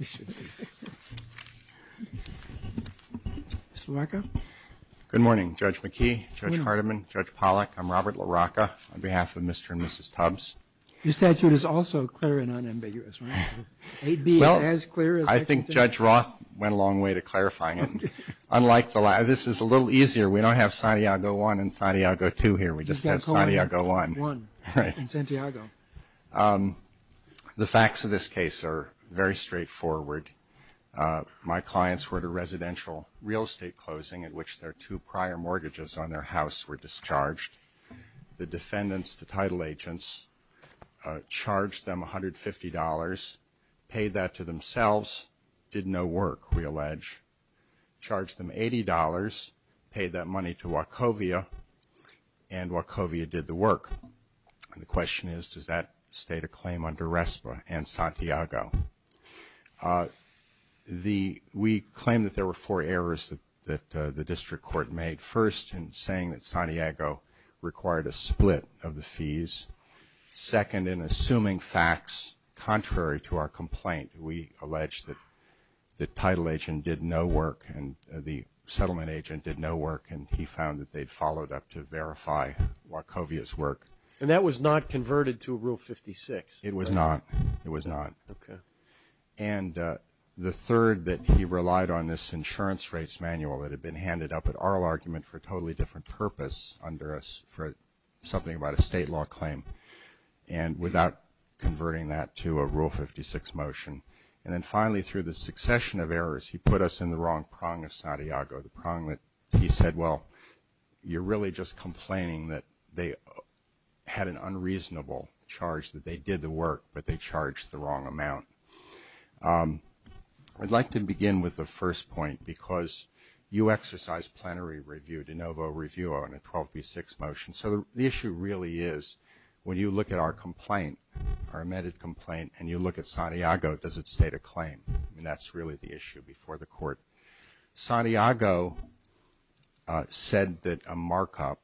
Mr. LaRocca. Good morning, Judge McKee, Judge Hardiman, Judge Pollack. I'm Robert LaRocca on behalf of Mr. and Mrs. Tubbs. Your statute is also clear and unambiguous, right? Well, I think Judge Roth went a long way to clarifying it. This is a little easier. We don't have Santiago I and Santiago II here. We just have Santiago I. Right. In Santiago. The facts of this case are very straightforward. My clients were at a residential real estate closing in which their two prior mortgages on their house were discharged. The defendants, the title agents, charged them $150, paid that to themselves, did no work, we allege, charged them $80, paid that money to Wachovia, and Wachovia did the work. And the question is, does that state a claim under RESPA and Santiago? We claim that there were four errors that the district court made. First, in saying that Santiago required a split of the fees. Second, in assuming facts contrary to our complaint. We allege that the title agent did no work and the settlement agent did no work, and he found that they'd followed up to verify Wachovia's work. And that was not converted to Rule 56? It was not. It was not. Okay. And the third, that he relied on this insurance rates manual that had been handed up at oral argument for a totally different purpose under something about a state law claim, and without converting that to a Rule 56 motion. And then finally, through the succession of errors, he put us in the wrong prong of Santiago, the prong that he said, well, you're really just complaining that they had an unreasonable charge, that they did the work, but they charged the wrong amount. I'd like to begin with the first point, because you exercise plenary review, de novo review on a 12B6 motion, so the issue really is, when you look at our complaint, our amended complaint, and you look at Santiago, does it state a claim? And that's really the issue before the court. Santiago said that a markup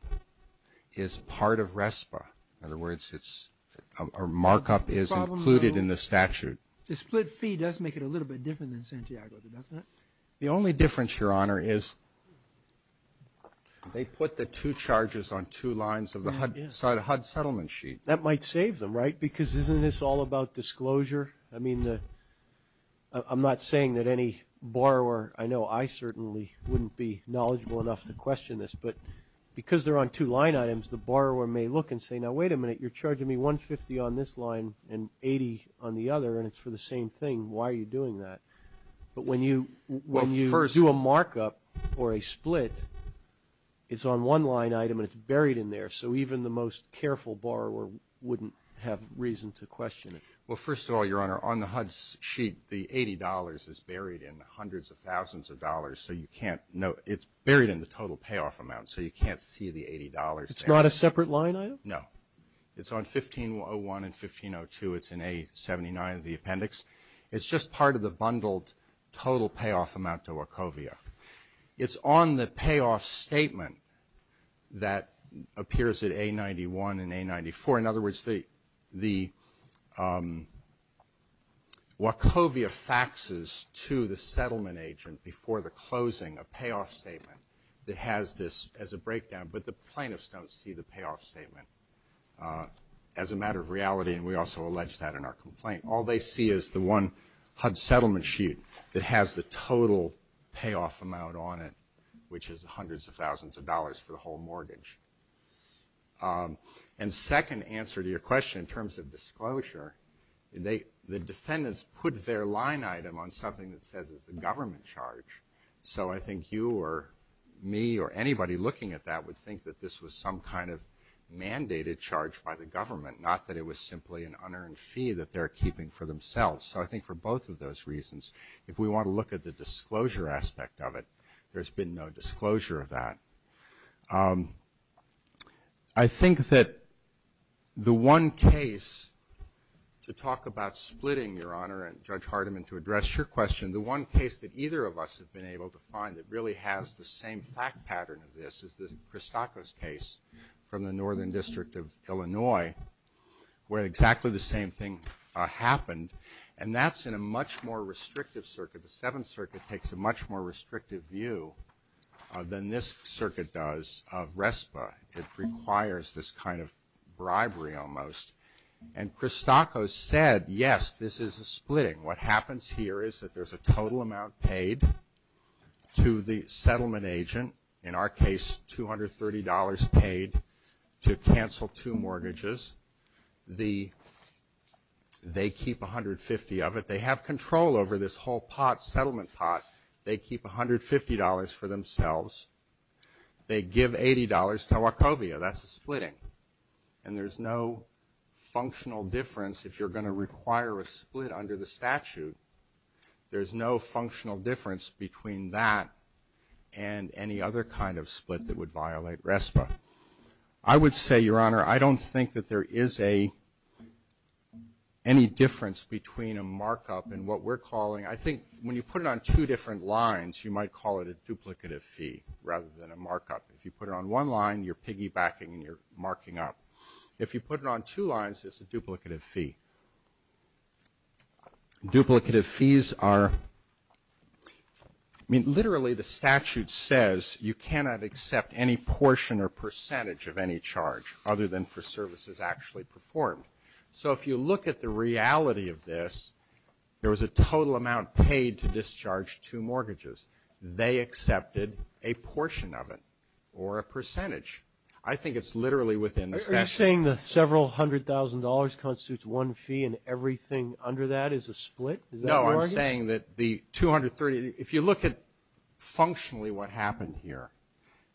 is part of RESPA. In other words, a markup is included in the statute. The split fee does make it a little bit different than Santiago, doesn't it? The only difference, Your Honor, is they put the two charges on two lines of the HUD settlement sheet. That might save them, right? Because isn't this all about disclosure? I mean, I'm not saying that any borrower, I know I certainly wouldn't be knowledgeable enough to question this, but because they're on two line items, the borrower may look and say, now, wait a minute, you're charging me $150 on this line and $80 on the other, and it's for the same thing. Why are you doing that? But when you do a markup or a split, it's on one line item and it's buried in there, so even the most careful borrower wouldn't have reason to question it. Well, first of all, Your Honor, on the HUD sheet, the $80 is buried in the hundreds of thousands of dollars, so you can't know. It's buried in the total payoff amount, so you can't see the $80. It's not a separate line item? No. It's on 1501 and 1502. It's in A-79 of the appendix. It's just part of the bundled total payoff amount to Wachovia. It's on the payoff statement that appears at A-91 and A-94. In other words, the Wachovia faxes to the settlement agent before the closing, a payoff statement that has this as a breakdown, but the plaintiffs don't see the payoff statement as a matter of reality, and we also allege that in our complaint. All they see is the one HUD settlement sheet that has the total payoff amount on it, which is hundreds of thousands of dollars for the whole mortgage. And second answer to your question in terms of disclosure, the defendants put their line item on something that says it's a government charge, so I think you or me or anybody looking at that would think that this was some kind of mandated charge by the government, not that it was simply an unearned fee that they're keeping for themselves. So I think for both of those reasons, if we want to look at the disclosure aspect of it, there's been no disclosure of that. I think that the one case to talk about splitting, Your Honor, and Judge Hardiman to address your question, the one case that either of us have been able to find that really has the same fact pattern of this is the Christakos case from the Northern District of Illinois, where exactly the same thing happened, and that's in a much more restrictive circuit. The Seventh Circuit takes a much more restrictive view than this circuit does of RESPA. It requires this kind of bribery almost. And Christakos said, yes, this is a splitting. What happens here is that there's a total amount paid to the settlement agent, in our case $230 paid to cancel two mortgages. They keep $150 of it. They have control over this whole pot, settlement pot. They keep $150 for themselves. They give $80 to Wachovia. That's a splitting. And there's no functional difference. If you're going to require a split under the statute, there's no functional difference between that and any other kind of split that would violate RESPA. I would say, Your Honor, I don't think that there is any difference between a markup and what we're calling. I think when you put it on two different lines, you might call it a duplicative fee rather than a markup. If you put it on one line, you're piggybacking and you're marking up. If you put it on two lines, it's a duplicative fee. Duplicative fees are, I mean, literally the statute says you cannot accept any portion or percentage of any charge other than for services actually performed. So if you look at the reality of this, there was a total amount paid to discharge two mortgages. They accepted a portion of it or a percentage. I think it's literally within the statute. Are you saying the several hundred thousand dollars constitutes one fee and everything under that is a split? No, I'm saying that the 230, if you look at functionally what happened here,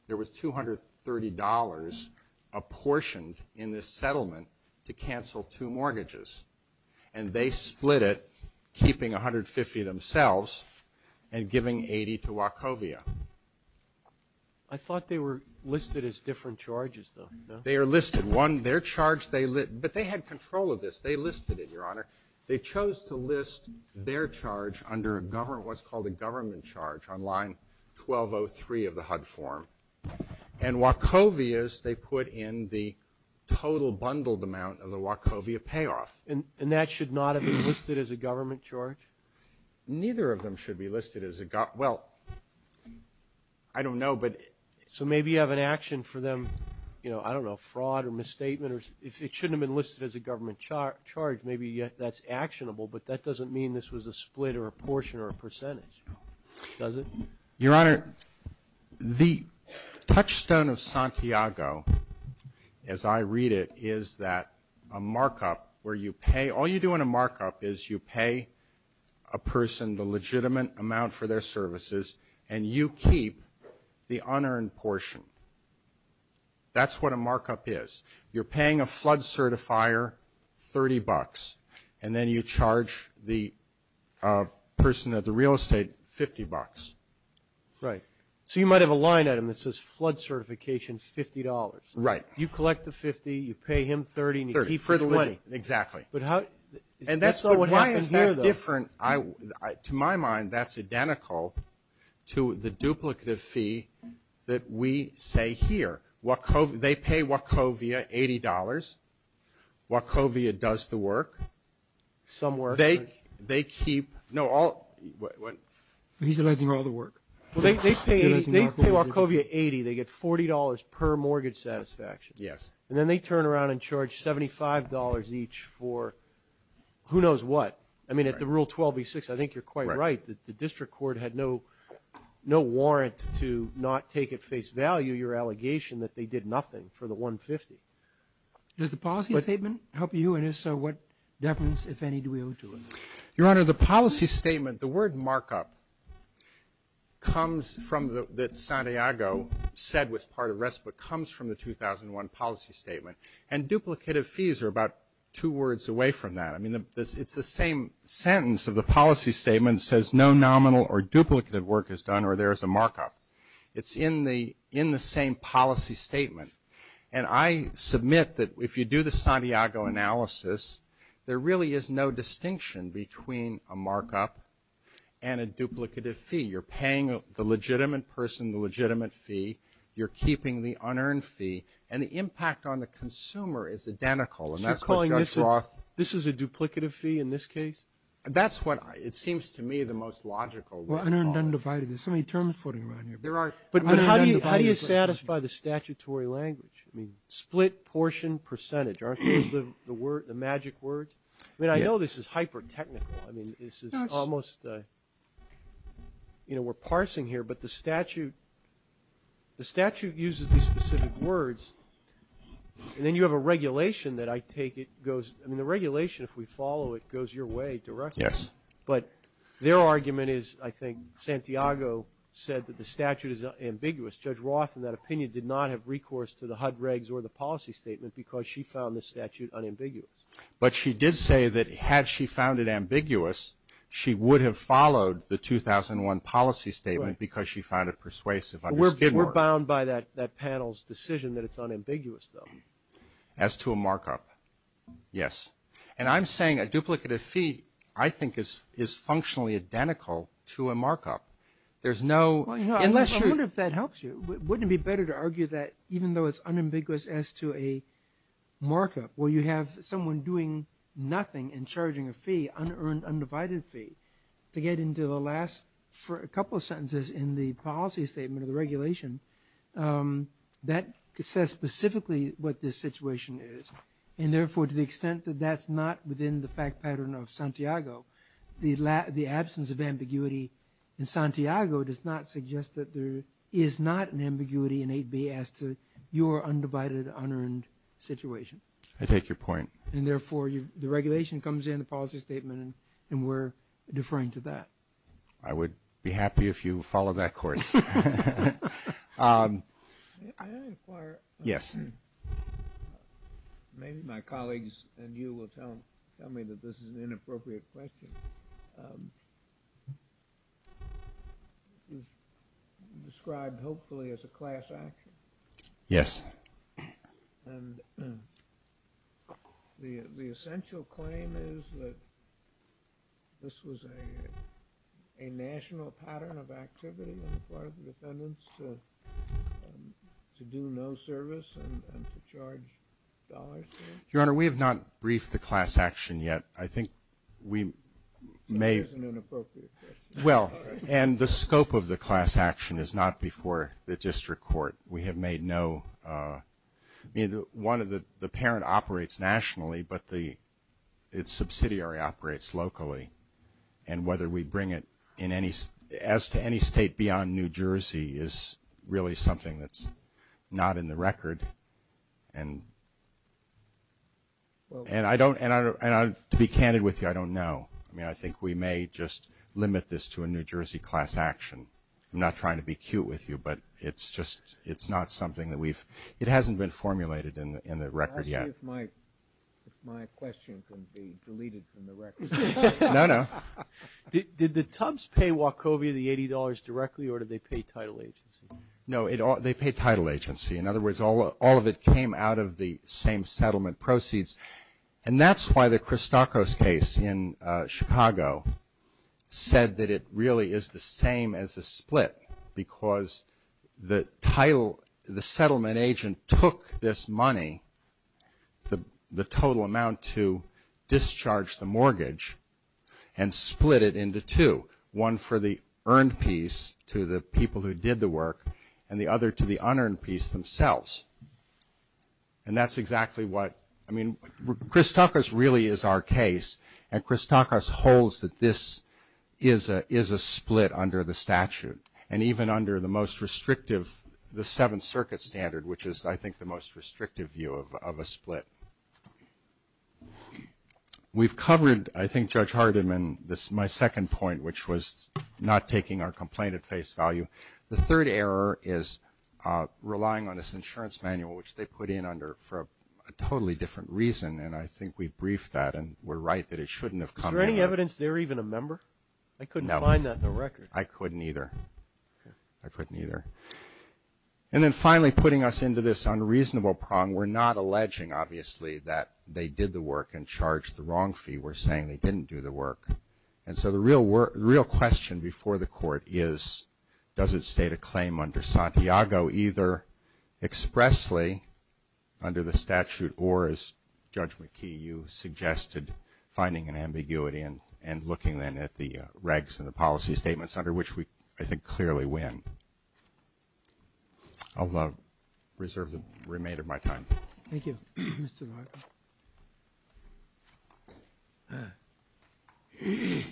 there was $230 apportioned in this settlement to cancel two mortgages. And they split it, keeping 150 themselves and giving 80 to Wachovia. I thought they were listed as different charges, though. They are listed. One, their charge, but they had control of this. They listed it, Your Honor. They chose to list their charge under what's called a government charge on line 1203 of the HUD form. And Wachovia's, they put in the total bundled amount of the Wachovia payoff. And that should not have been listed as a government charge? Neither of them should be listed as a government charge. Well, I don't know. So maybe you have an action for them, you know, I don't know, fraud or misstatement. If it shouldn't have been listed as a government charge, maybe that's actionable, but that doesn't mean this was a split or a portion or a percentage, does it? Your Honor, the touchstone of Santiago, as I read it, is that a markup where you pay, all you do in a markup is you pay a person the legitimate amount for their services and you keep the unearned portion. That's what a markup is. You're paying a flood certifier $30, and then you charge the person at the real estate $50. Right. So you might have a line item that says flood certification $50. Right. You collect the $50, you pay him $30, and you keep the money. Exactly. But that's not what happened here, though. But why is that different? To my mind, that's identical to the duplicative fee that we say here. They pay Wachovia $80. Wachovia does the work. Some work. They keep, no, all. He's alleging all the work. They pay Wachovia $80. They get $40 per mortgage satisfaction. Yes. And then they turn around and charge $75 each for who knows what. I mean, at the Rule 12b-6, I think you're quite right, the district court had no warrant to not take at face value your allegation that they did nothing for the $150. Does the policy statement help you? And if so, what deference, if any, do we owe to it? Your Honor, the policy statement, the word markup comes from the Santiago said was part of RESPA, comes from the 2001 policy statement. And duplicative fees are about two words away from that. I mean, it's the same sentence of the policy statement. It says no nominal or duplicative work is done or there is a markup. It's in the same policy statement. And I submit that if you do the Santiago analysis, there really is no distinction between a markup and a duplicative fee. You're paying the legitimate person the legitimate fee. You're keeping the unearned fee. And the impact on the consumer is identical. And that's what Judge Roth. This is a duplicative fee in this case? That's what it seems to me the most logical. Well, unearned, undivided. There's so many terms floating around here. But how do you satisfy the statutory language? I mean, split, portion, percentage, aren't those the magic words? I mean, I know this is hyper-technical. I mean, this is almost, you know, we're parsing here. But the statute uses these specific words. And then you have a regulation that I take it goes ‑‑ I mean, the regulation, if we follow it, goes your way directly. Yes. But their argument is, I think, Santiago said that the statute is ambiguous. Judge Roth, in that opinion, did not have recourse to the HUD regs or the policy statement because she found the statute unambiguous. But she did say that had she found it ambiguous, she would have followed the 2001 policy statement because she found it persuasive. We're bound by that panel's decision that it's unambiguous, though. As to a markup, yes. And I'm saying a duplicative fee, I think, is functionally identical to a markup. There's no ‑‑ I wonder if that helps you. Wouldn't it be better to argue that even though it's unambiguous as to a markup, where you have someone doing nothing and charging a fee, unearned, undivided fee, to get into the last couple of sentences in the policy statement or the regulation, that says specifically what this situation is. And therefore, to the extent that that's not within the fact pattern of Santiago, the absence of ambiguity in Santiago does not suggest that there is not an ambiguity in 8B as to your undivided, unearned situation. I take your point. And therefore, the regulation comes in, the policy statement, and we're deferring to that. I would be happy if you followed that course. May I inquire? Yes. Maybe my colleagues and you will tell me that this is an inappropriate question. This is described, hopefully, as a class action. Yes. And the essential claim is that this was a national pattern of activity on the part of the defendants to do no service and to charge dollars? Your Honor, we have not briefed the class action yet. I think we may – So it is an inappropriate question. Well, and the scope of the class action is not before the district court. We have made no – I mean, the parent operates nationally, but its subsidiary operates locally. And whether we bring it as to any state beyond New Jersey is really something that's not in the record. And to be candid with you, I don't know. I mean, I think we may just limit this to a New Jersey class action. I'm not trying to be cute with you, but it's just – it's not something that we've – it hasn't been formulated in the record yet. Can I ask you if my question can be deleted from the record? No, no. Did the Tubbs pay Wachovia the $80 directly, or did they pay title agency? No, they paid title agency. In other words, all of it came out of the same settlement proceeds. And that's why the Christakos case in Chicago said that it really is the same as a split, because the title – the settlement agent took this money, the total amount to discharge the mortgage, and split it into two, one for the earned piece to the people who did the work and the other to the unearned piece themselves. And that's exactly what – I mean, Christakos really is our case, and Christakos holds that this is a split under the statute, and even under the most restrictive – the Seventh Circuit standard, which is, I think, the most restrictive view of a split. We've covered, I think, Judge Hardiman, my second point, which was not taking our complaint at face value. The third error is relying on this insurance manual, which they put in for a totally different reason, and I think we briefed that, and we're right that it shouldn't have come down. Is there any evidence they were even a member? I couldn't find that in the record. No. I couldn't either. I couldn't either. And then finally, putting us into this unreasonable prong, we're not alleging, obviously, that they did the work and charged the wrong fee. We're saying they didn't do the work. And so the real question before the court is, does it state a claim under Santiago either expressly under the statute or, as Judge McKee, you suggested, finding an ambiguity and looking then at the regs and the policy statements under which we, I think, clearly win. I'll reserve the remainder of my time. Thank you, Mr. Larkin. Good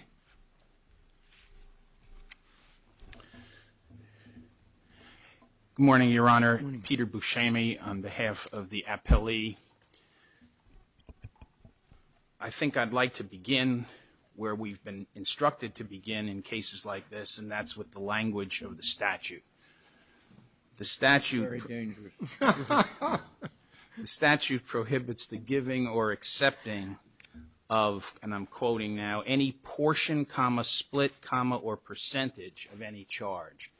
morning, Your Honor. Peter Buscemi on behalf of the appellee. I think I'd like to begin where we've been instructed to begin in cases like this, the statute prohibits the giving or accepting of, and I'm quoting now, any portion, comma, split, comma, or percentage of any charge.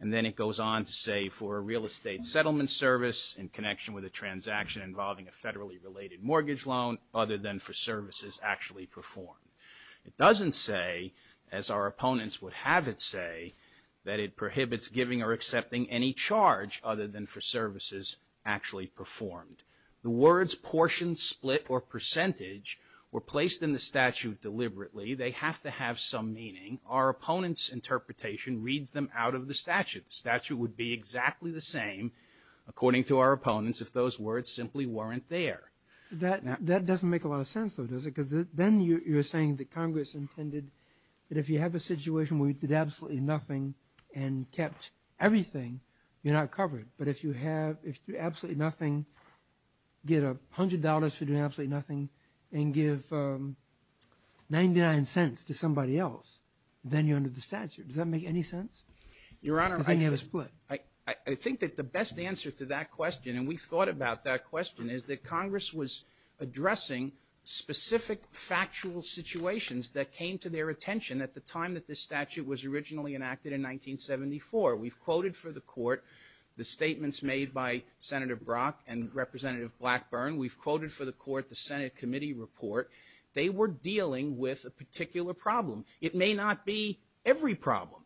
And then it goes on to say, for a real estate settlement service in connection with a transaction involving a federally related mortgage loan other than for services actually performed. It doesn't say, as our opponents would have it say, that it prohibits giving or accepting any charge other than for services actually performed. The words portion, split, or percentage were placed in the statute deliberately. They have to have some meaning. Our opponent's interpretation reads them out of the statute. The statute would be exactly the same, according to our opponents, if those words simply weren't there. That doesn't make a lot of sense, though, does it? Because then you're saying that Congress intended that if you have a situation where you did absolutely nothing and kept everything, you're not covered. But if you have absolutely nothing, get $100 for doing absolutely nothing and give 99 cents to somebody else, then you're under the statute. Does that make any sense? Your Honor, I think that the best answer to that question, and we've thought about that question, is that Congress was addressing specific factual situations that came to their attention at the time that this statute was originally enacted in 1974. We've quoted for the Court the statements made by Senator Brock and Representative Blackburn. We've quoted for the Court the Senate Committee Report. They were dealing with a particular problem. It may not be every problem,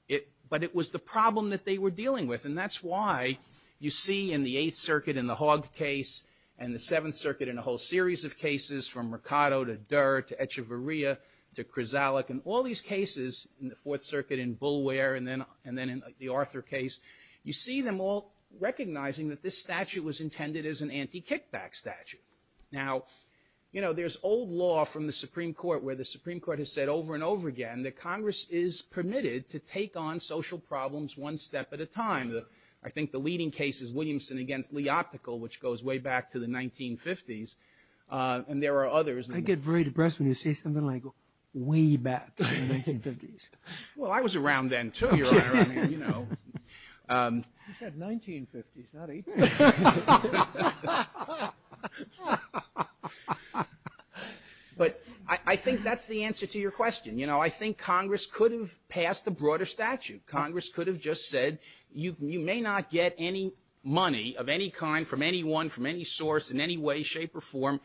but it was the problem that they were dealing with, and that's why you see in the Eighth Circuit in the Hogg case and the Seventh Circuit in a whole series of cases, from Mercado to Durr to Echevarria to Krizalik, and all these cases in the Fourth Circuit in Bulware and then in the Arthur case, you see them all recognizing that this statute was intended as an anti-kickback statute. Now, you know, there's old law from the Supreme Court where the Supreme Court has said over and over again that Congress is permitted to take on social problems one step at a time. I think the leading case is Williamson against Lee Optical, which goes way back to the 1950s, and there are others. I get very depressed when you say something like way back to the 1950s. Well, I was around then, too, Your Honor. I mean, you know. He said 1950s, not 80s. Ha, ha, ha. But I think that's the answer to your question. You know, I think Congress could have passed a broader statute. Congress could have just said you may not get any money of any kind from anyone, from any source, in any way, shape, or form,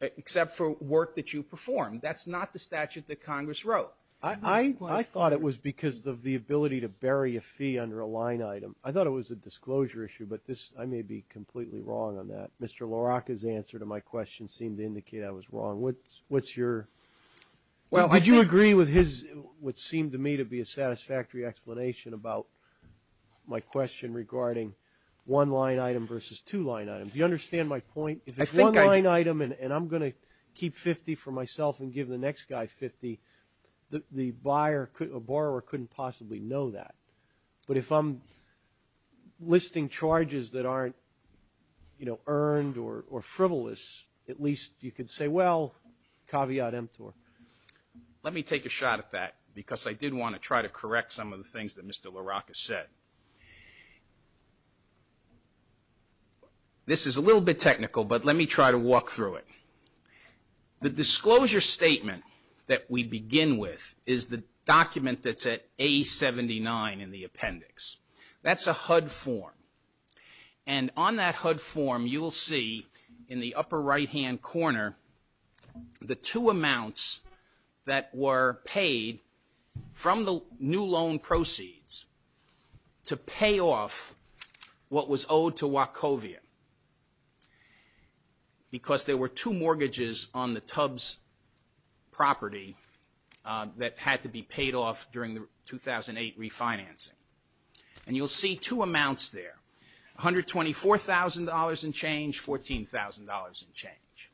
except for work that you perform. That's not the statute that Congress wrote. I thought it was because of the ability to bury a fee under a line item. I thought it was a disclosure issue, but I may be completely wrong on that. Mr. LaRocca's answer to my question seemed to indicate I was wrong. What's your ---- Well, I think ---- Would you agree with his what seemed to me to be a satisfactory explanation about my question regarding one line item versus two line items? Do you understand my point? If it's one line item and I'm going to keep 50 for myself and give the next guy 50, the borrower couldn't possibly know that. But if I'm listing charges that aren't, you know, earned or frivolous, at least you could say, well, caveat emptor. Let me take a shot at that, because I did want to try to correct some of the things that Mr. LaRocca said. This is a little bit technical, but let me try to walk through it. The disclosure statement that we begin with is the document that's at A-79 in the appendix. That's a HUD form, and on that HUD form you will see in the upper right-hand corner the two amounts that were paid from the new loan proceeds to pay off what was owed to Wachovia, because there were two mortgages on the Tubbs property that had to be paid off during the 2008 refinancing. And you'll see two amounts there, $124,000 in change, $14,000 in change.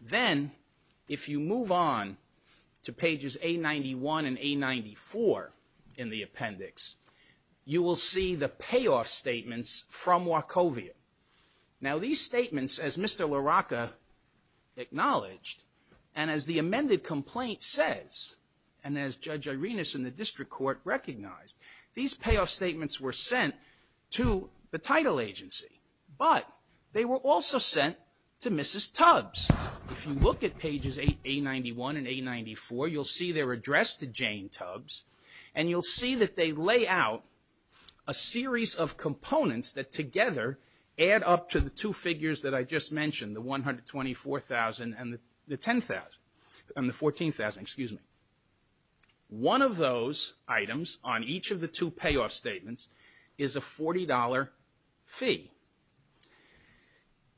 Then if you move on to pages A-91 and A-94 in the appendix, you will see the payoff statements from Wachovia. Now these statements, as Mr. LaRocca acknowledged, and as the amended complaint says, and as Judge Irenas in the district court recognized, these payoff statements were sent to the title agency, but they were also sent to Mrs. Tubbs. If you look at pages A-91 and A-94, you'll see they're addressed to Jane Tubbs, and you'll see that they lay out a series of components that together add up to the two figures that I just mentioned, the $124,000 and the $14,000. One of those items on each of the two payoff statements is a $40 fee.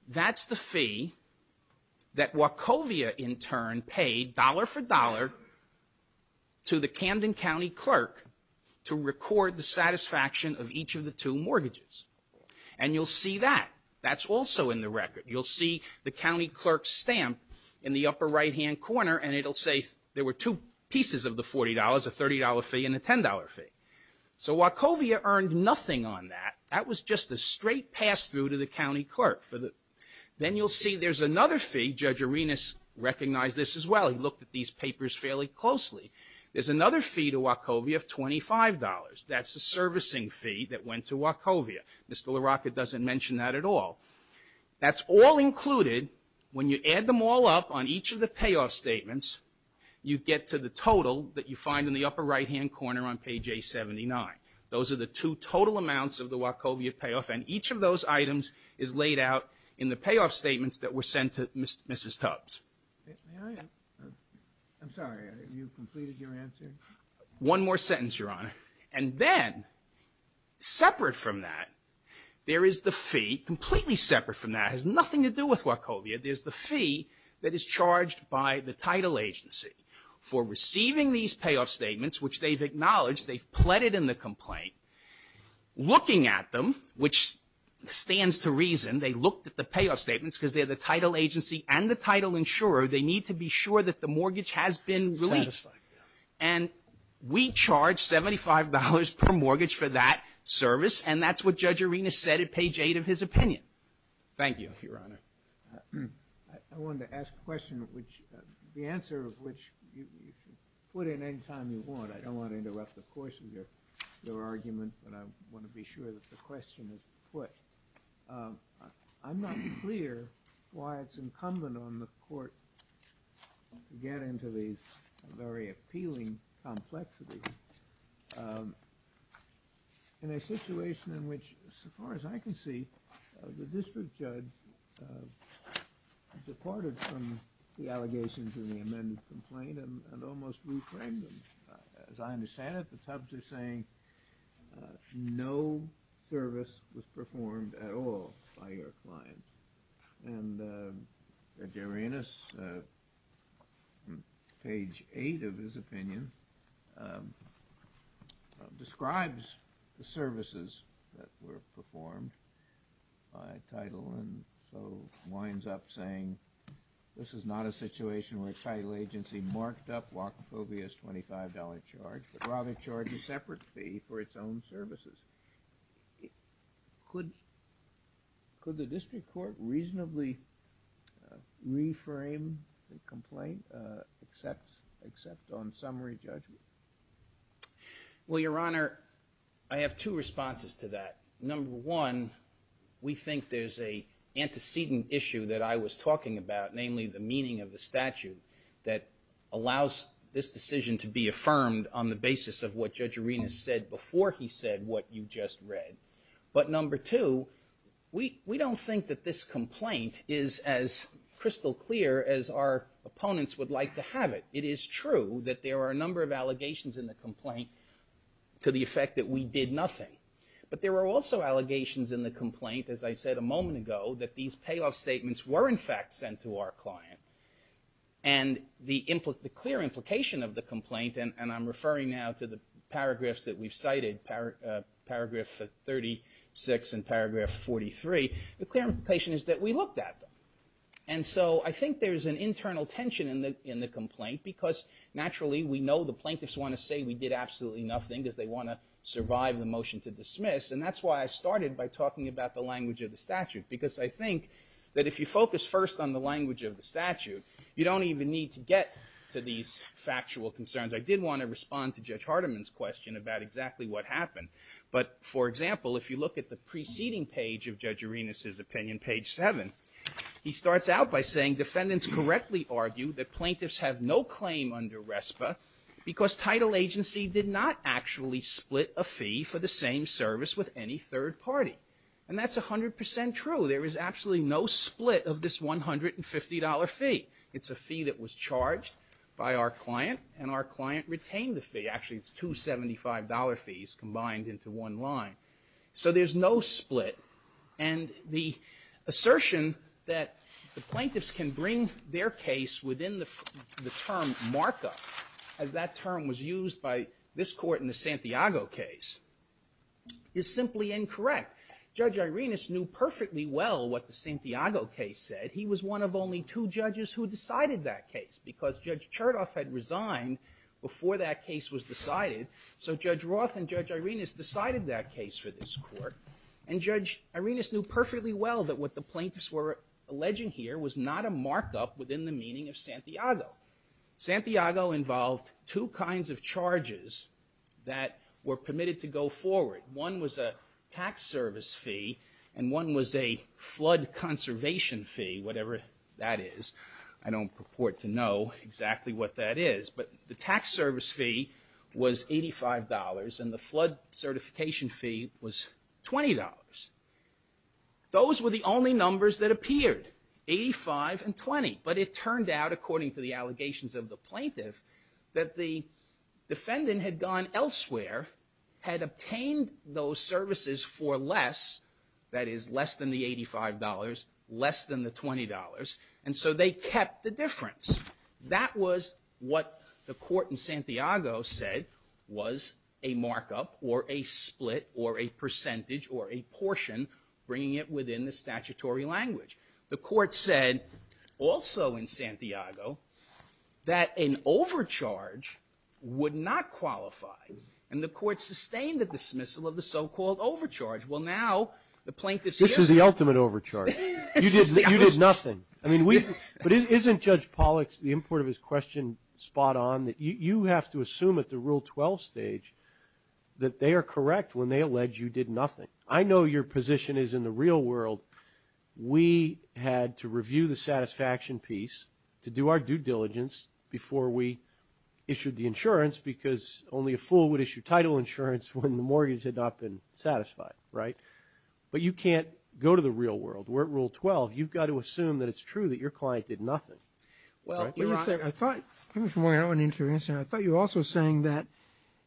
That's the fee that Wachovia in turn paid dollar for dollar to the Camden County clerk to record the satisfaction of each of the two mortgages. And you'll see that. That's also in the record. You'll see the county clerk's stamp in the upper right-hand corner, and it'll say there were two pieces of the $40, a $30 fee and a $10 fee. So Wachovia earned nothing on that. That was just a straight pass-through to the county clerk. Then you'll see there's another fee. Judge Irenas recognized this as well. He looked at these papers fairly closely. There's another fee to Wachovia of $25. That's a servicing fee that went to Wachovia. Mr. LaRocca doesn't mention that at all. That's all included. When you add them all up on each of the payoff statements, you get to the total that you find in the upper right-hand corner on page A79. Those are the two total amounts of the Wachovia payoff, and each of those items is laid out in the payoff statements that were sent to Mrs. Tubbs. May I? I'm sorry. Have you completed your answer? One more sentence, Your Honor. And then, separate from that, there is the fee, completely separate from that. It has nothing to do with Wachovia. There's the fee that is charged by the title agency for receiving these payoff statements, which they've acknowledged. They've pleaded in the complaint. Looking at them, which stands to reason they looked at the payoff statements because they're the title agency and the title insurer. They need to be sure that the mortgage has been released. And we charge $75 per mortgage for that service, and that's what Judge Arenas said at page 8 of his opinion. Thank you, Your Honor. I wanted to ask a question which the answer of which you can put in any time you want. I don't want to interrupt the course of your argument, but I want to be sure that the question is put. I'm not clear why it's incumbent on the court to get into these very appealing complexities in a situation in which, so far as I can see, the district judge departed from the allegations in the amended complaint and almost reframed them. As I understand it, the Tubbs is saying no service was performed at all by your client. And Judge Arenas, page 8 of his opinion, describes the services that were performed by title and so winds up saying, this is not a situation where a title agency marked up Wachapovia's $25 charge, but rather charged a separate fee for its own services. Could the district court reasonably reframe the complaint, except on summary judgment? Well, Your Honor, I have two responses to that. Number one, we think there's a antecedent issue that I was talking about, namely the meaning of the statute that allows this decision to be affirmed on the basis of what Judge Arenas said before he said what you just read. But number two, we don't think that this complaint is as crystal clear as our opponents would like to have it. It is true that there are a number of allegations in the complaint to the effect that we did nothing. But there are also allegations in the complaint, as I said a moment ago, that these payoff statements were in fact sent to our client. And the clear implication of the complaint, and I'm referring now to the paragraphs that we've cited, paragraph 36 and paragraph 43, the clear implication is that we looked at them. And so I think there's an internal tension in the complaint, because naturally we know the plaintiffs want to say we did absolutely nothing because they want to survive the motion to dismiss. And that's why I started by talking about the language of the statute, because I think that if you focus first on the language of the statute, you don't even need to get to these factual concerns. I did want to respond to Judge Hardiman's question about exactly what happened. But for example, if you look at the preceding page of Judge Arenas' opinion, page seven, he starts out by saying, defendants correctly argue that plaintiffs have no claim under RESPA because title agency did not actually split a fee for the same service with any third party. And that's a hundred percent true. There is absolutely no split of this $150 fee. It's a fee that was charged by our client and our client retained the fee. Actually it's two $75 fees combined into one line. So there's no split. And the assertion that the plaintiffs can bring their case within the term markup as that term was used by this court in the Santiago case is simply incorrect. Judge Arenas knew perfectly well what the Santiago case said. He was one of only two judges who decided that case because Judge Chertoff had resigned before that case was decided. So Judge Roth and Judge Arenas decided that case for this court and Judge Arenas knew perfectly well that what the plaintiffs were alleging here was not a Santiago. Santiago involved two kinds of charges that were permitted to go forward. One was a tax service fee and one was a flood conservation fee, whatever that is. I don't purport to know exactly what that is, but the tax service fee was $85 and the flood certification fee was $20. Those were the only numbers that appeared, 85 and 20, but it turned out according to the allegations of the plaintiff, that the defendant had gone elsewhere, had obtained those services for less, that is less than the $85, less than the $20. And so they kept the difference. That was what the court in Santiago said was a markup or a split or a proportion, bringing it within the statutory language. The court said also in Santiago that an overcharge would not qualify. And the court sustained the dismissal of the so-called overcharge. Well, now the plaintiffs. This is the ultimate overcharge. You did nothing. I mean, we, but isn't Judge Pollack's, the import of his question spot on that you have to assume at the rule 12 stage that they are correct when they allege you did nothing. I know your position is in the real world. We had to review the satisfaction piece to do our due diligence before we issued the insurance because only a fool would issue title insurance when the mortgage had not been satisfied. Right. But you can't go to the real world. We're at rule 12. You've got to assume that it's true that your client did nothing. Well, I thought you were also saying that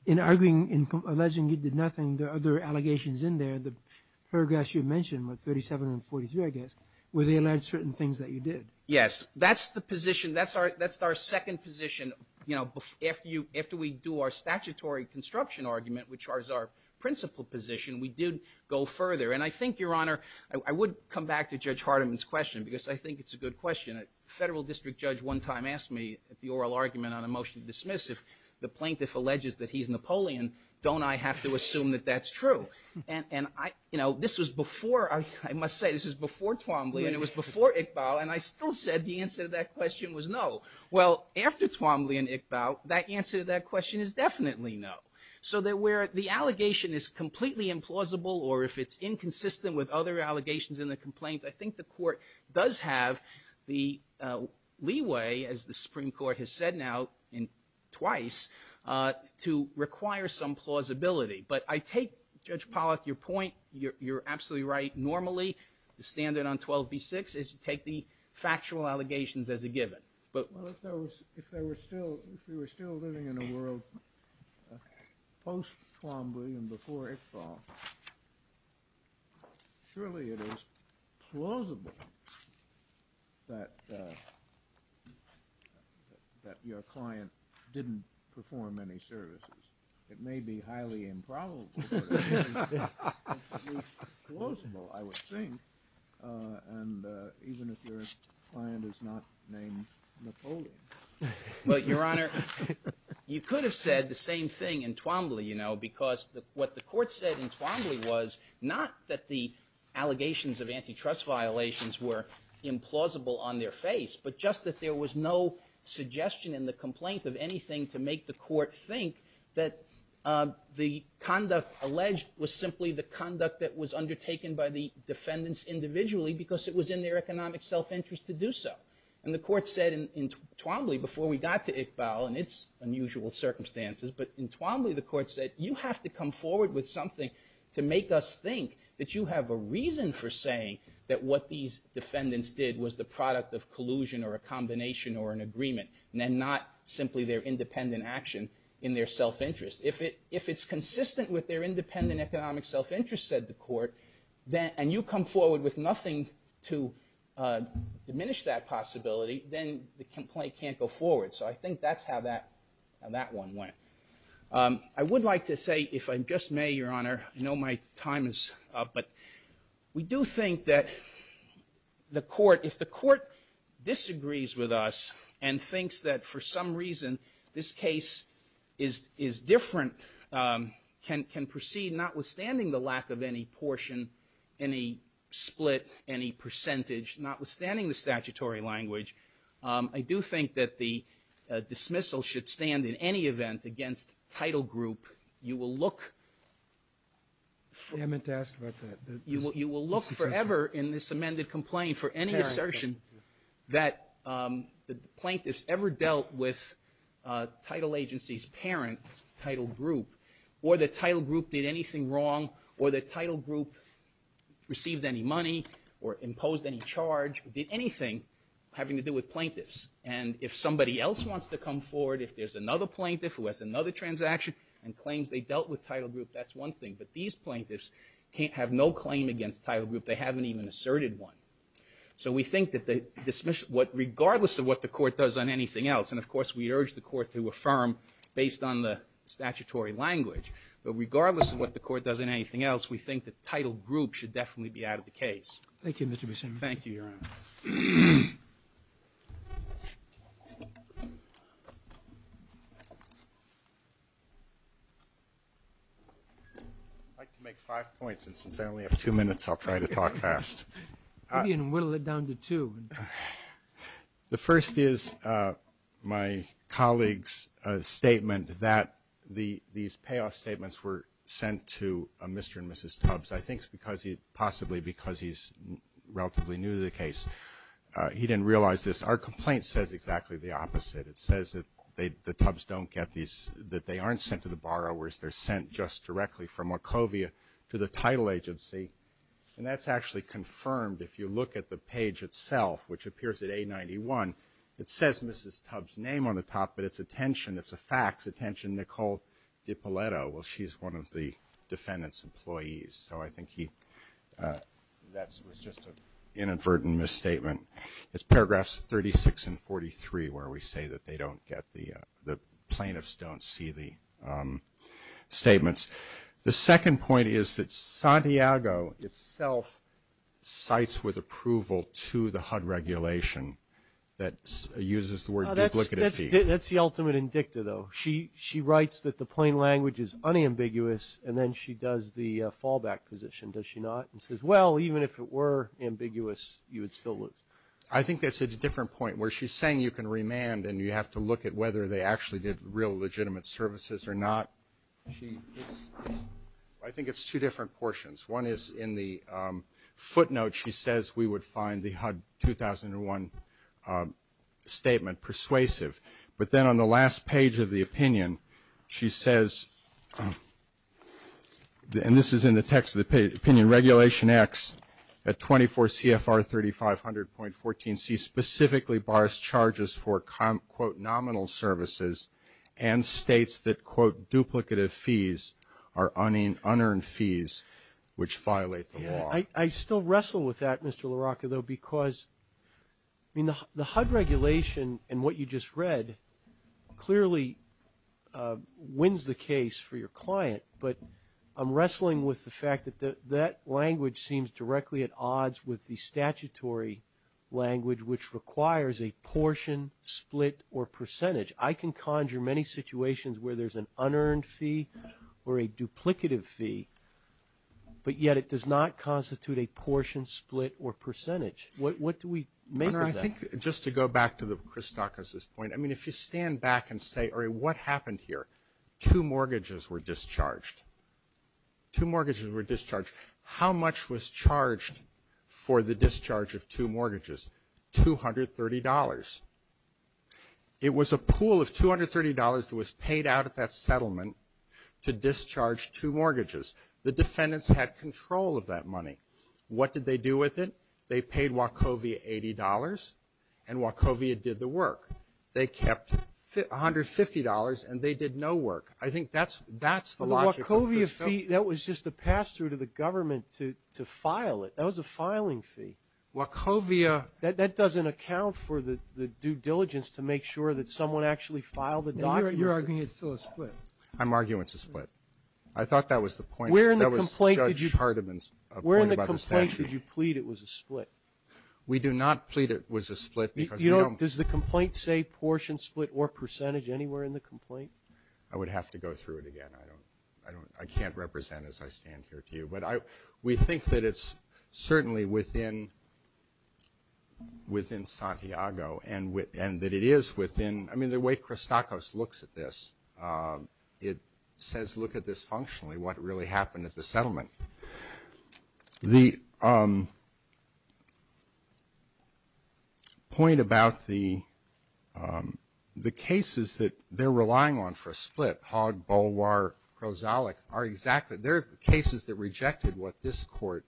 in arguing in alleging you did nothing, there are other allegations in there, the paragraphs you mentioned with 37 and 43, I guess, where they allege certain things that you did. Yes, that's the position. That's our, that's our second position. You know, after you, after we do our statutory construction argument, which is our principal position, we did go further. And I think Your Honor, I would come back to Judge Hardiman's question because I think it's a good question. A federal district judge one time asked me at the oral argument on a motion to dismiss if the plaintiff alleges that he's Napoleon, don't I have to assume that that's true? And I, you know, this was before, I must say this was before Twombly and it was before Iqbal. And I still said the answer to that question was no. Well, after Twombly and Iqbal, that answer to that question is definitely no. So that where the allegation is completely implausible or if it's inconsistent with other allegations in the complaint, I think the court does have the leeway, as the Supreme Court has said now twice, to require some plausibility. But I take Judge Pollack, your point, you're absolutely right. Normally, the standard on 12b-6 is to take the factual allegations as a given. Well, if there was, if there were still, if we were still living in a world post-Twombly and before Iqbal, surely it is plausible that, that your client didn't perform any services. It may be highly improbable, but it's plausible, I would think. And even if your client is not named Napoleon. Well, Your Honor, you could have said the same thing in Twombly, you know, because what the court said in Twombly was not that the allegations of there was no suggestion in the complaint of anything to make the court think that the conduct alleged was simply the conduct that was undertaken by the defendants individually because it was in their economic self-interest to do so. And the court said in Twombly, before we got to Iqbal and it's unusual circumstances, but in Twombly the court said you have to come forward with something to make us think that you have a reason for saying that what these defendants did was the product of collusion or a combination or an agreement and then not simply their independent action in their self-interest. If it's consistent with their independent economic self-interest, said the court, and you come forward with nothing to diminish that possibility, then the complaint can't go forward. So I think that's how that one went. I would like to say, if I just may, Your Honor, I know my time is up, but we do think that the court, if the court disagrees with us and thinks that for some reason this case is different, can proceed notwithstanding the lack of any portion, any split, any percentage, notwithstanding the statutory language, I do think that the dismissal should stand in any event against title group. You will look forever in this amended complaint for any assertion that the plaintiffs ever dealt with title agencies, parent, title group, or the title group did anything wrong, or the title group received any money or imposed any charge, did anything having to do with plaintiffs. And if somebody else wants to come forward, if there's another plaintiff who has another transaction and claims they dealt with title group, that's one thing. But these plaintiffs have no claim against title group. They haven't even asserted one. So we think that the dismissal, regardless of what the court does on anything else, and, of course, we urge the court to affirm based on the statutory language, but regardless of what the court does on anything else, we think that title group should definitely be out of the case. Thank you, Mr. Buscemi. Thank you, Your Honor. I'd like to make five points, and since I only have two minutes, I'll try to talk fast. Go ahead and whittle it down to two. The first is my colleague's statement that these payoff statements were sent to Mr. and Mrs. Tubbs, I think possibly because he's relatively new to the case. He didn't realize this. Our complaint says exactly the opposite. It says that the Tubbs don't get these, that they aren't sent to the borrowers. They're sent just directly from Wachovia to the title agency, and that's actually confirmed if you look at the page itself, which appears at A91. It says Mrs. Tubbs' name on the top, but it's a tension. It's a fact. It's a tension. Nicole DiPaletto, well, she's one of the defendant's employees, so I think that was just an inadvertent misstatement. It's paragraphs 36 and 43 where we say that the plaintiffs don't see the statements. The second point is that Santiago itself cites with approval to the HUD regulation that uses the word duplicity. That's the ultimate indicta, though. She writes that the plain language is unambiguous, and then she does the fallback position, does she not? And says, well, even if it were ambiguous, you would still lose. I think that's a different point where she's saying you can remand and you have to look at whether they actually did real legitimate services or not. I think it's two different portions. One is in the footnote she says we would find the HUD 2001 statement persuasive, but then on the last page of the opinion she says, and this is in the text of the opinion, Regulation X at 24 CFR 3500.14C specifically bars charges for, quote, nominal services and states that, quote, duplicative fees are unearned fees which violate the law. I still wrestle with that, Mr. LaRocca, though, because the HUD regulation and what you just read clearly wins the case for your client, but I'm wrestling with the fact that that language seems directly at odds with the statutory language, which requires a portion, split, or percentage. I can conjure many situations where there's an unearned fee or a duplicative fee, but yet it does not constitute a portion, split, or percentage. What do we make of that? I think just to go back to Chris Stocker's point, I mean, if you stand back and say, all right, what happened here? Two mortgages were discharged. Two mortgages were discharged. How much was charged for the discharge of two mortgages? $230. It was a pool of $230 that was paid out at that settlement to discharge two mortgages. The defendants had control of that money. What did they do with it? They paid Wachovia $80, and Wachovia did the work. They kept $150, and they did no work. I think that's the logic of the settlement. Well, the Wachovia fee, that was just a pass-through to the government to file it. That was a filing fee. Wachovia. That doesn't account for the due diligence to make sure that someone actually filed the documents. You're arguing it's still a split. I'm arguing it's a split. I thought that was the point. That was Judge Hardiman's point about the statute. Why should you plead it was a split? We do not plead it was a split. Does the complaint say portion, split, or percentage anywhere in the complaint? I would have to go through it again. I can't represent it as I stand here to you. But we think that it's certainly within Santiago and that it is within the way Christakos looks at this. It says, look at this functionally, what really happened at the settlement. The point about the cases that they're relying on for a split, Hogg, Bolwar, Krozalik, are exactly the cases that rejected what this Court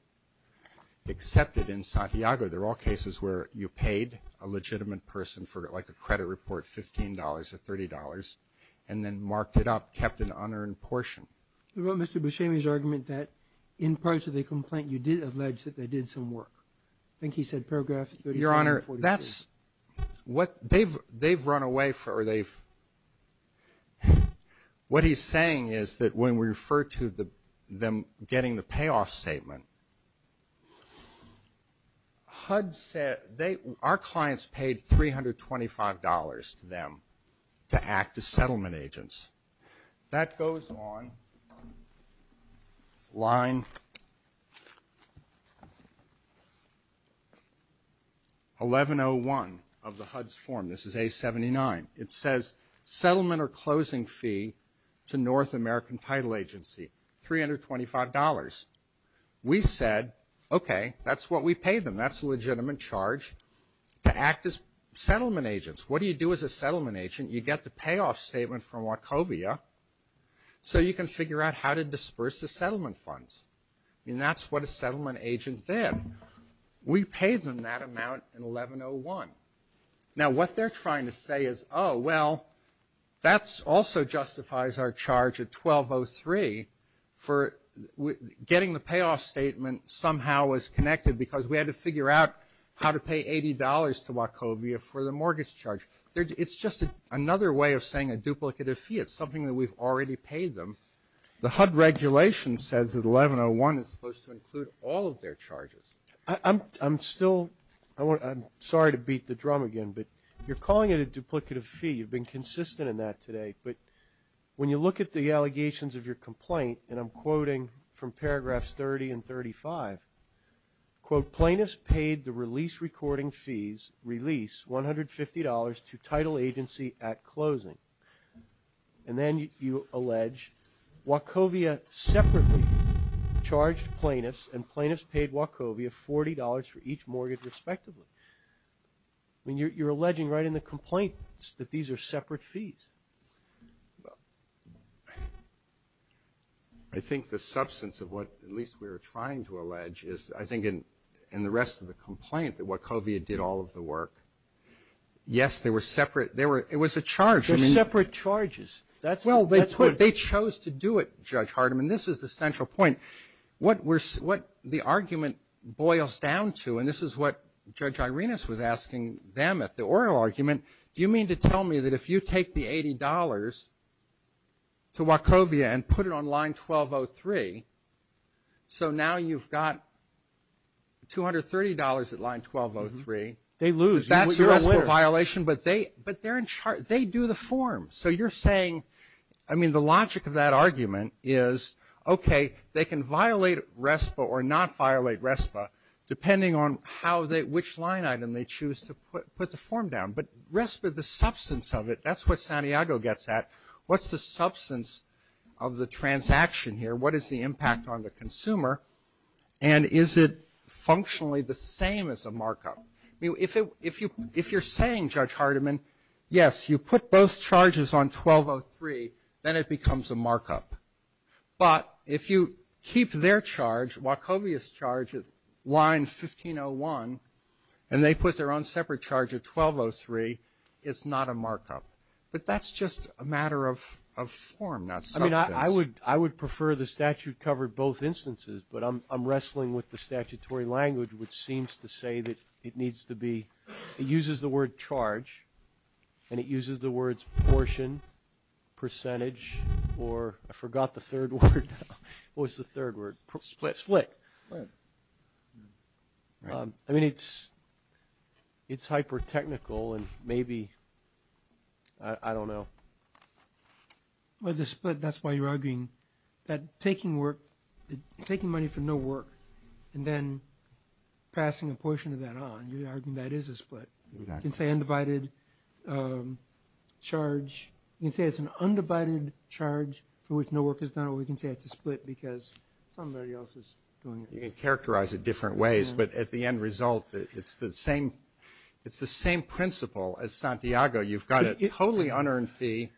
accepted in Santiago. They're all cases where you paid a legitimate person for like a credit report, $15 or $30, and then marked it up, kept an unearned portion. You wrote Mr. Buscemi's argument that in parts of the complaint, you did allege that they did some work. I think he said paragraph 37. Your Honor, that's what they've run away for. What he's saying is that when we refer to them getting the payoff statement, HUD said our clients paid $325 to them to act as settlement agents. That goes on line 1101 of the HUD's form. This is A79. It says settlement or closing fee to North American Title Agency, $325. We said, okay, that's what we paid them. That's a legitimate charge to act as settlement agents. What do you do as a settlement agent? You get the payoff statement from Wachovia, so you can figure out how to disperse the settlement funds. I mean, that's what a settlement agent did. We paid them that amount in 1101. Now, what they're trying to say is, oh, well, that also justifies our charge at 1203 for getting the payoff statement somehow was connected because we had to figure out how to pay $80 to Wachovia for the mortgage charge. It's just another way of saying a duplicative fee. It's something that we've already paid them. The HUD regulation says that 1101 is supposed to include all of their charges. I'm still – I'm sorry to beat the drum again, but you're calling it a duplicative fee. You've been consistent in that today. But when you look at the allegations of your complaint, and I'm quoting from paragraphs 30 and 35, quote, plaintiffs paid the release recording fees release $150 to title agency at closing. And then you allege Wachovia separately charged plaintiffs and plaintiffs paid Wachovia $40 for each mortgage respectively. I mean, you're alleging right in the complaint that these are separate fees. Well, I think the substance of what at least we were trying to allege is I think in the rest of the complaint that Wachovia did all of the work. Yes, they were separate. It was a charge. They're separate charges. Well, they chose to do it, Judge Hardiman. This is the central point. What the argument boils down to, and this is what Judge Irenas was asking them at the oral argument, do you mean to tell me that if you take the $80 to Wachovia and put it on line 1203, so now you've got $230 at line 1203. They lose. That's a violation. But they do the form. So you're saying, I mean, the logic of that argument is, okay, they can violate RESPA or not violate RESPA depending on which line item they choose to put the form down. But RESPA, the substance of it, that's what Santiago gets at. What's the substance of the transaction here? What is the impact on the consumer? And is it functionally the same as a markup? If you're saying, Judge Hardiman, yes, you put both charges on 1203, then it becomes a markup. But if you keep their charge, Wachovia's charge at line 1501, and they put their own separate charge at 1203, it's not a markup. But that's just a matter of form, not substance. I mean, I would prefer the statute cover both instances, but I'm wrestling with the statutory language, which seems to say that it needs to be uses the word charge, and it uses the words portion, percentage, or I forgot the third word. What was the third word? Split. Split. Split. I mean, it's hyper-technical, and maybe, I don't know. With the split, that's why you're arguing that taking money for no work and then passing a portion of that on, you're arguing that is a split. You can say undivided charge. You can say it's an undivided charge for which no work is done, or we can say it's a split because somebody else is doing it. You can characterize it different ways. But at the end result, it's the same principle as Santiago. You've got a totally unearned fee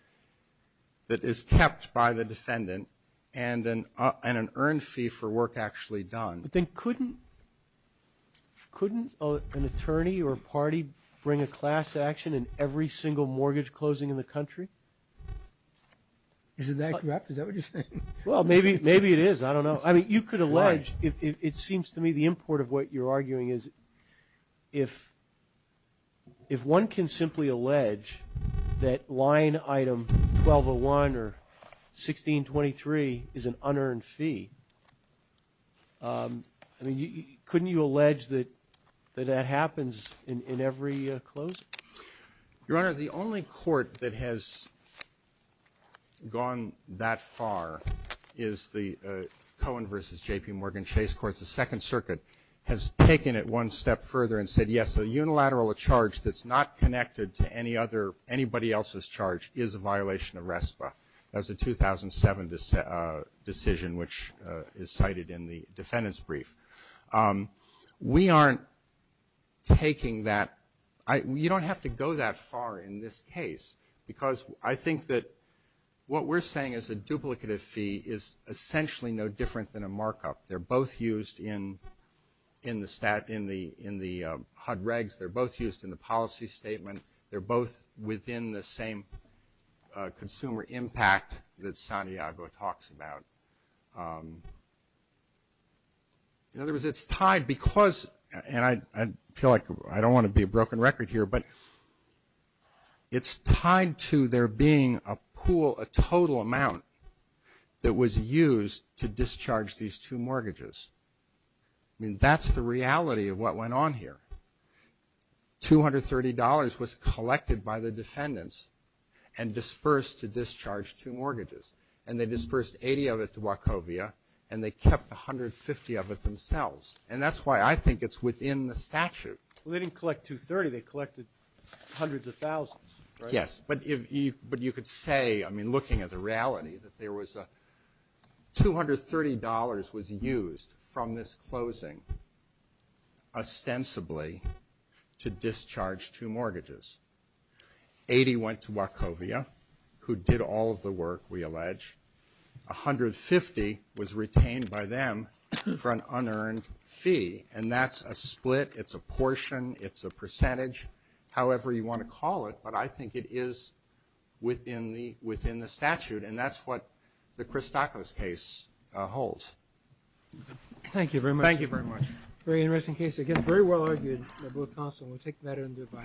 that is kept by the defendant and an earned fee for work actually done. But then couldn't an attorney or a party bring a class action in every single mortgage closing in the country? Isn't that correct? Is that what you're saying? Well, maybe it is. I don't know. I mean, you could allege, it seems to me, the import of what you're arguing is if one can simply allege that line item 1201 or 1623 is an unearned fee, I mean, couldn't you allege that that happens in every closing? Your Honor, the only court that has gone that far is the Cohen v. J.P. Morgan Chase Court. The Second Circuit has taken it one step further and said, yes, a unilateral charge that's not connected to any other, anybody else's charge, is a violation of RESPA. That was a 2007 decision which is cited in the defendant's brief. We aren't taking that. You don't have to go that far in this case because I think that what we're saying is a duplicative fee is essentially no different than a markup. They're both used in the HUD regs. They're both used in the policy statement. They're both within the same consumer impact that Santiago talks about. In other words, it's tied because, and I feel like I don't want to be a broken record here, but it's tied to there being a pool, a total amount that was used to discharge these two mortgages. I mean, that's the reality of what went on here. $230 was collected by the defendants and dispersed to discharge two mortgages, and they dispersed 80 of it to Wachovia, and they kept 150 of it themselves, and that's why I think it's within the statute. Well, they didn't collect 230. They collected hundreds of thousands, right? Yes, but you could say, I mean, looking at the reality, that $230 was used from this closing ostensibly to discharge two mortgages. 80 went to Wachovia, who did all of the work, we allege. 150 was retained by them for an unearned fee, and that's a split. It's a portion. It's a percentage, however you want to call it, but I think it is within the statute, and that's what the Christakos case holds. Thank you very much. Thank you very much. Very interesting case. Again, very well-argued by both counsel, and we'll take that into account.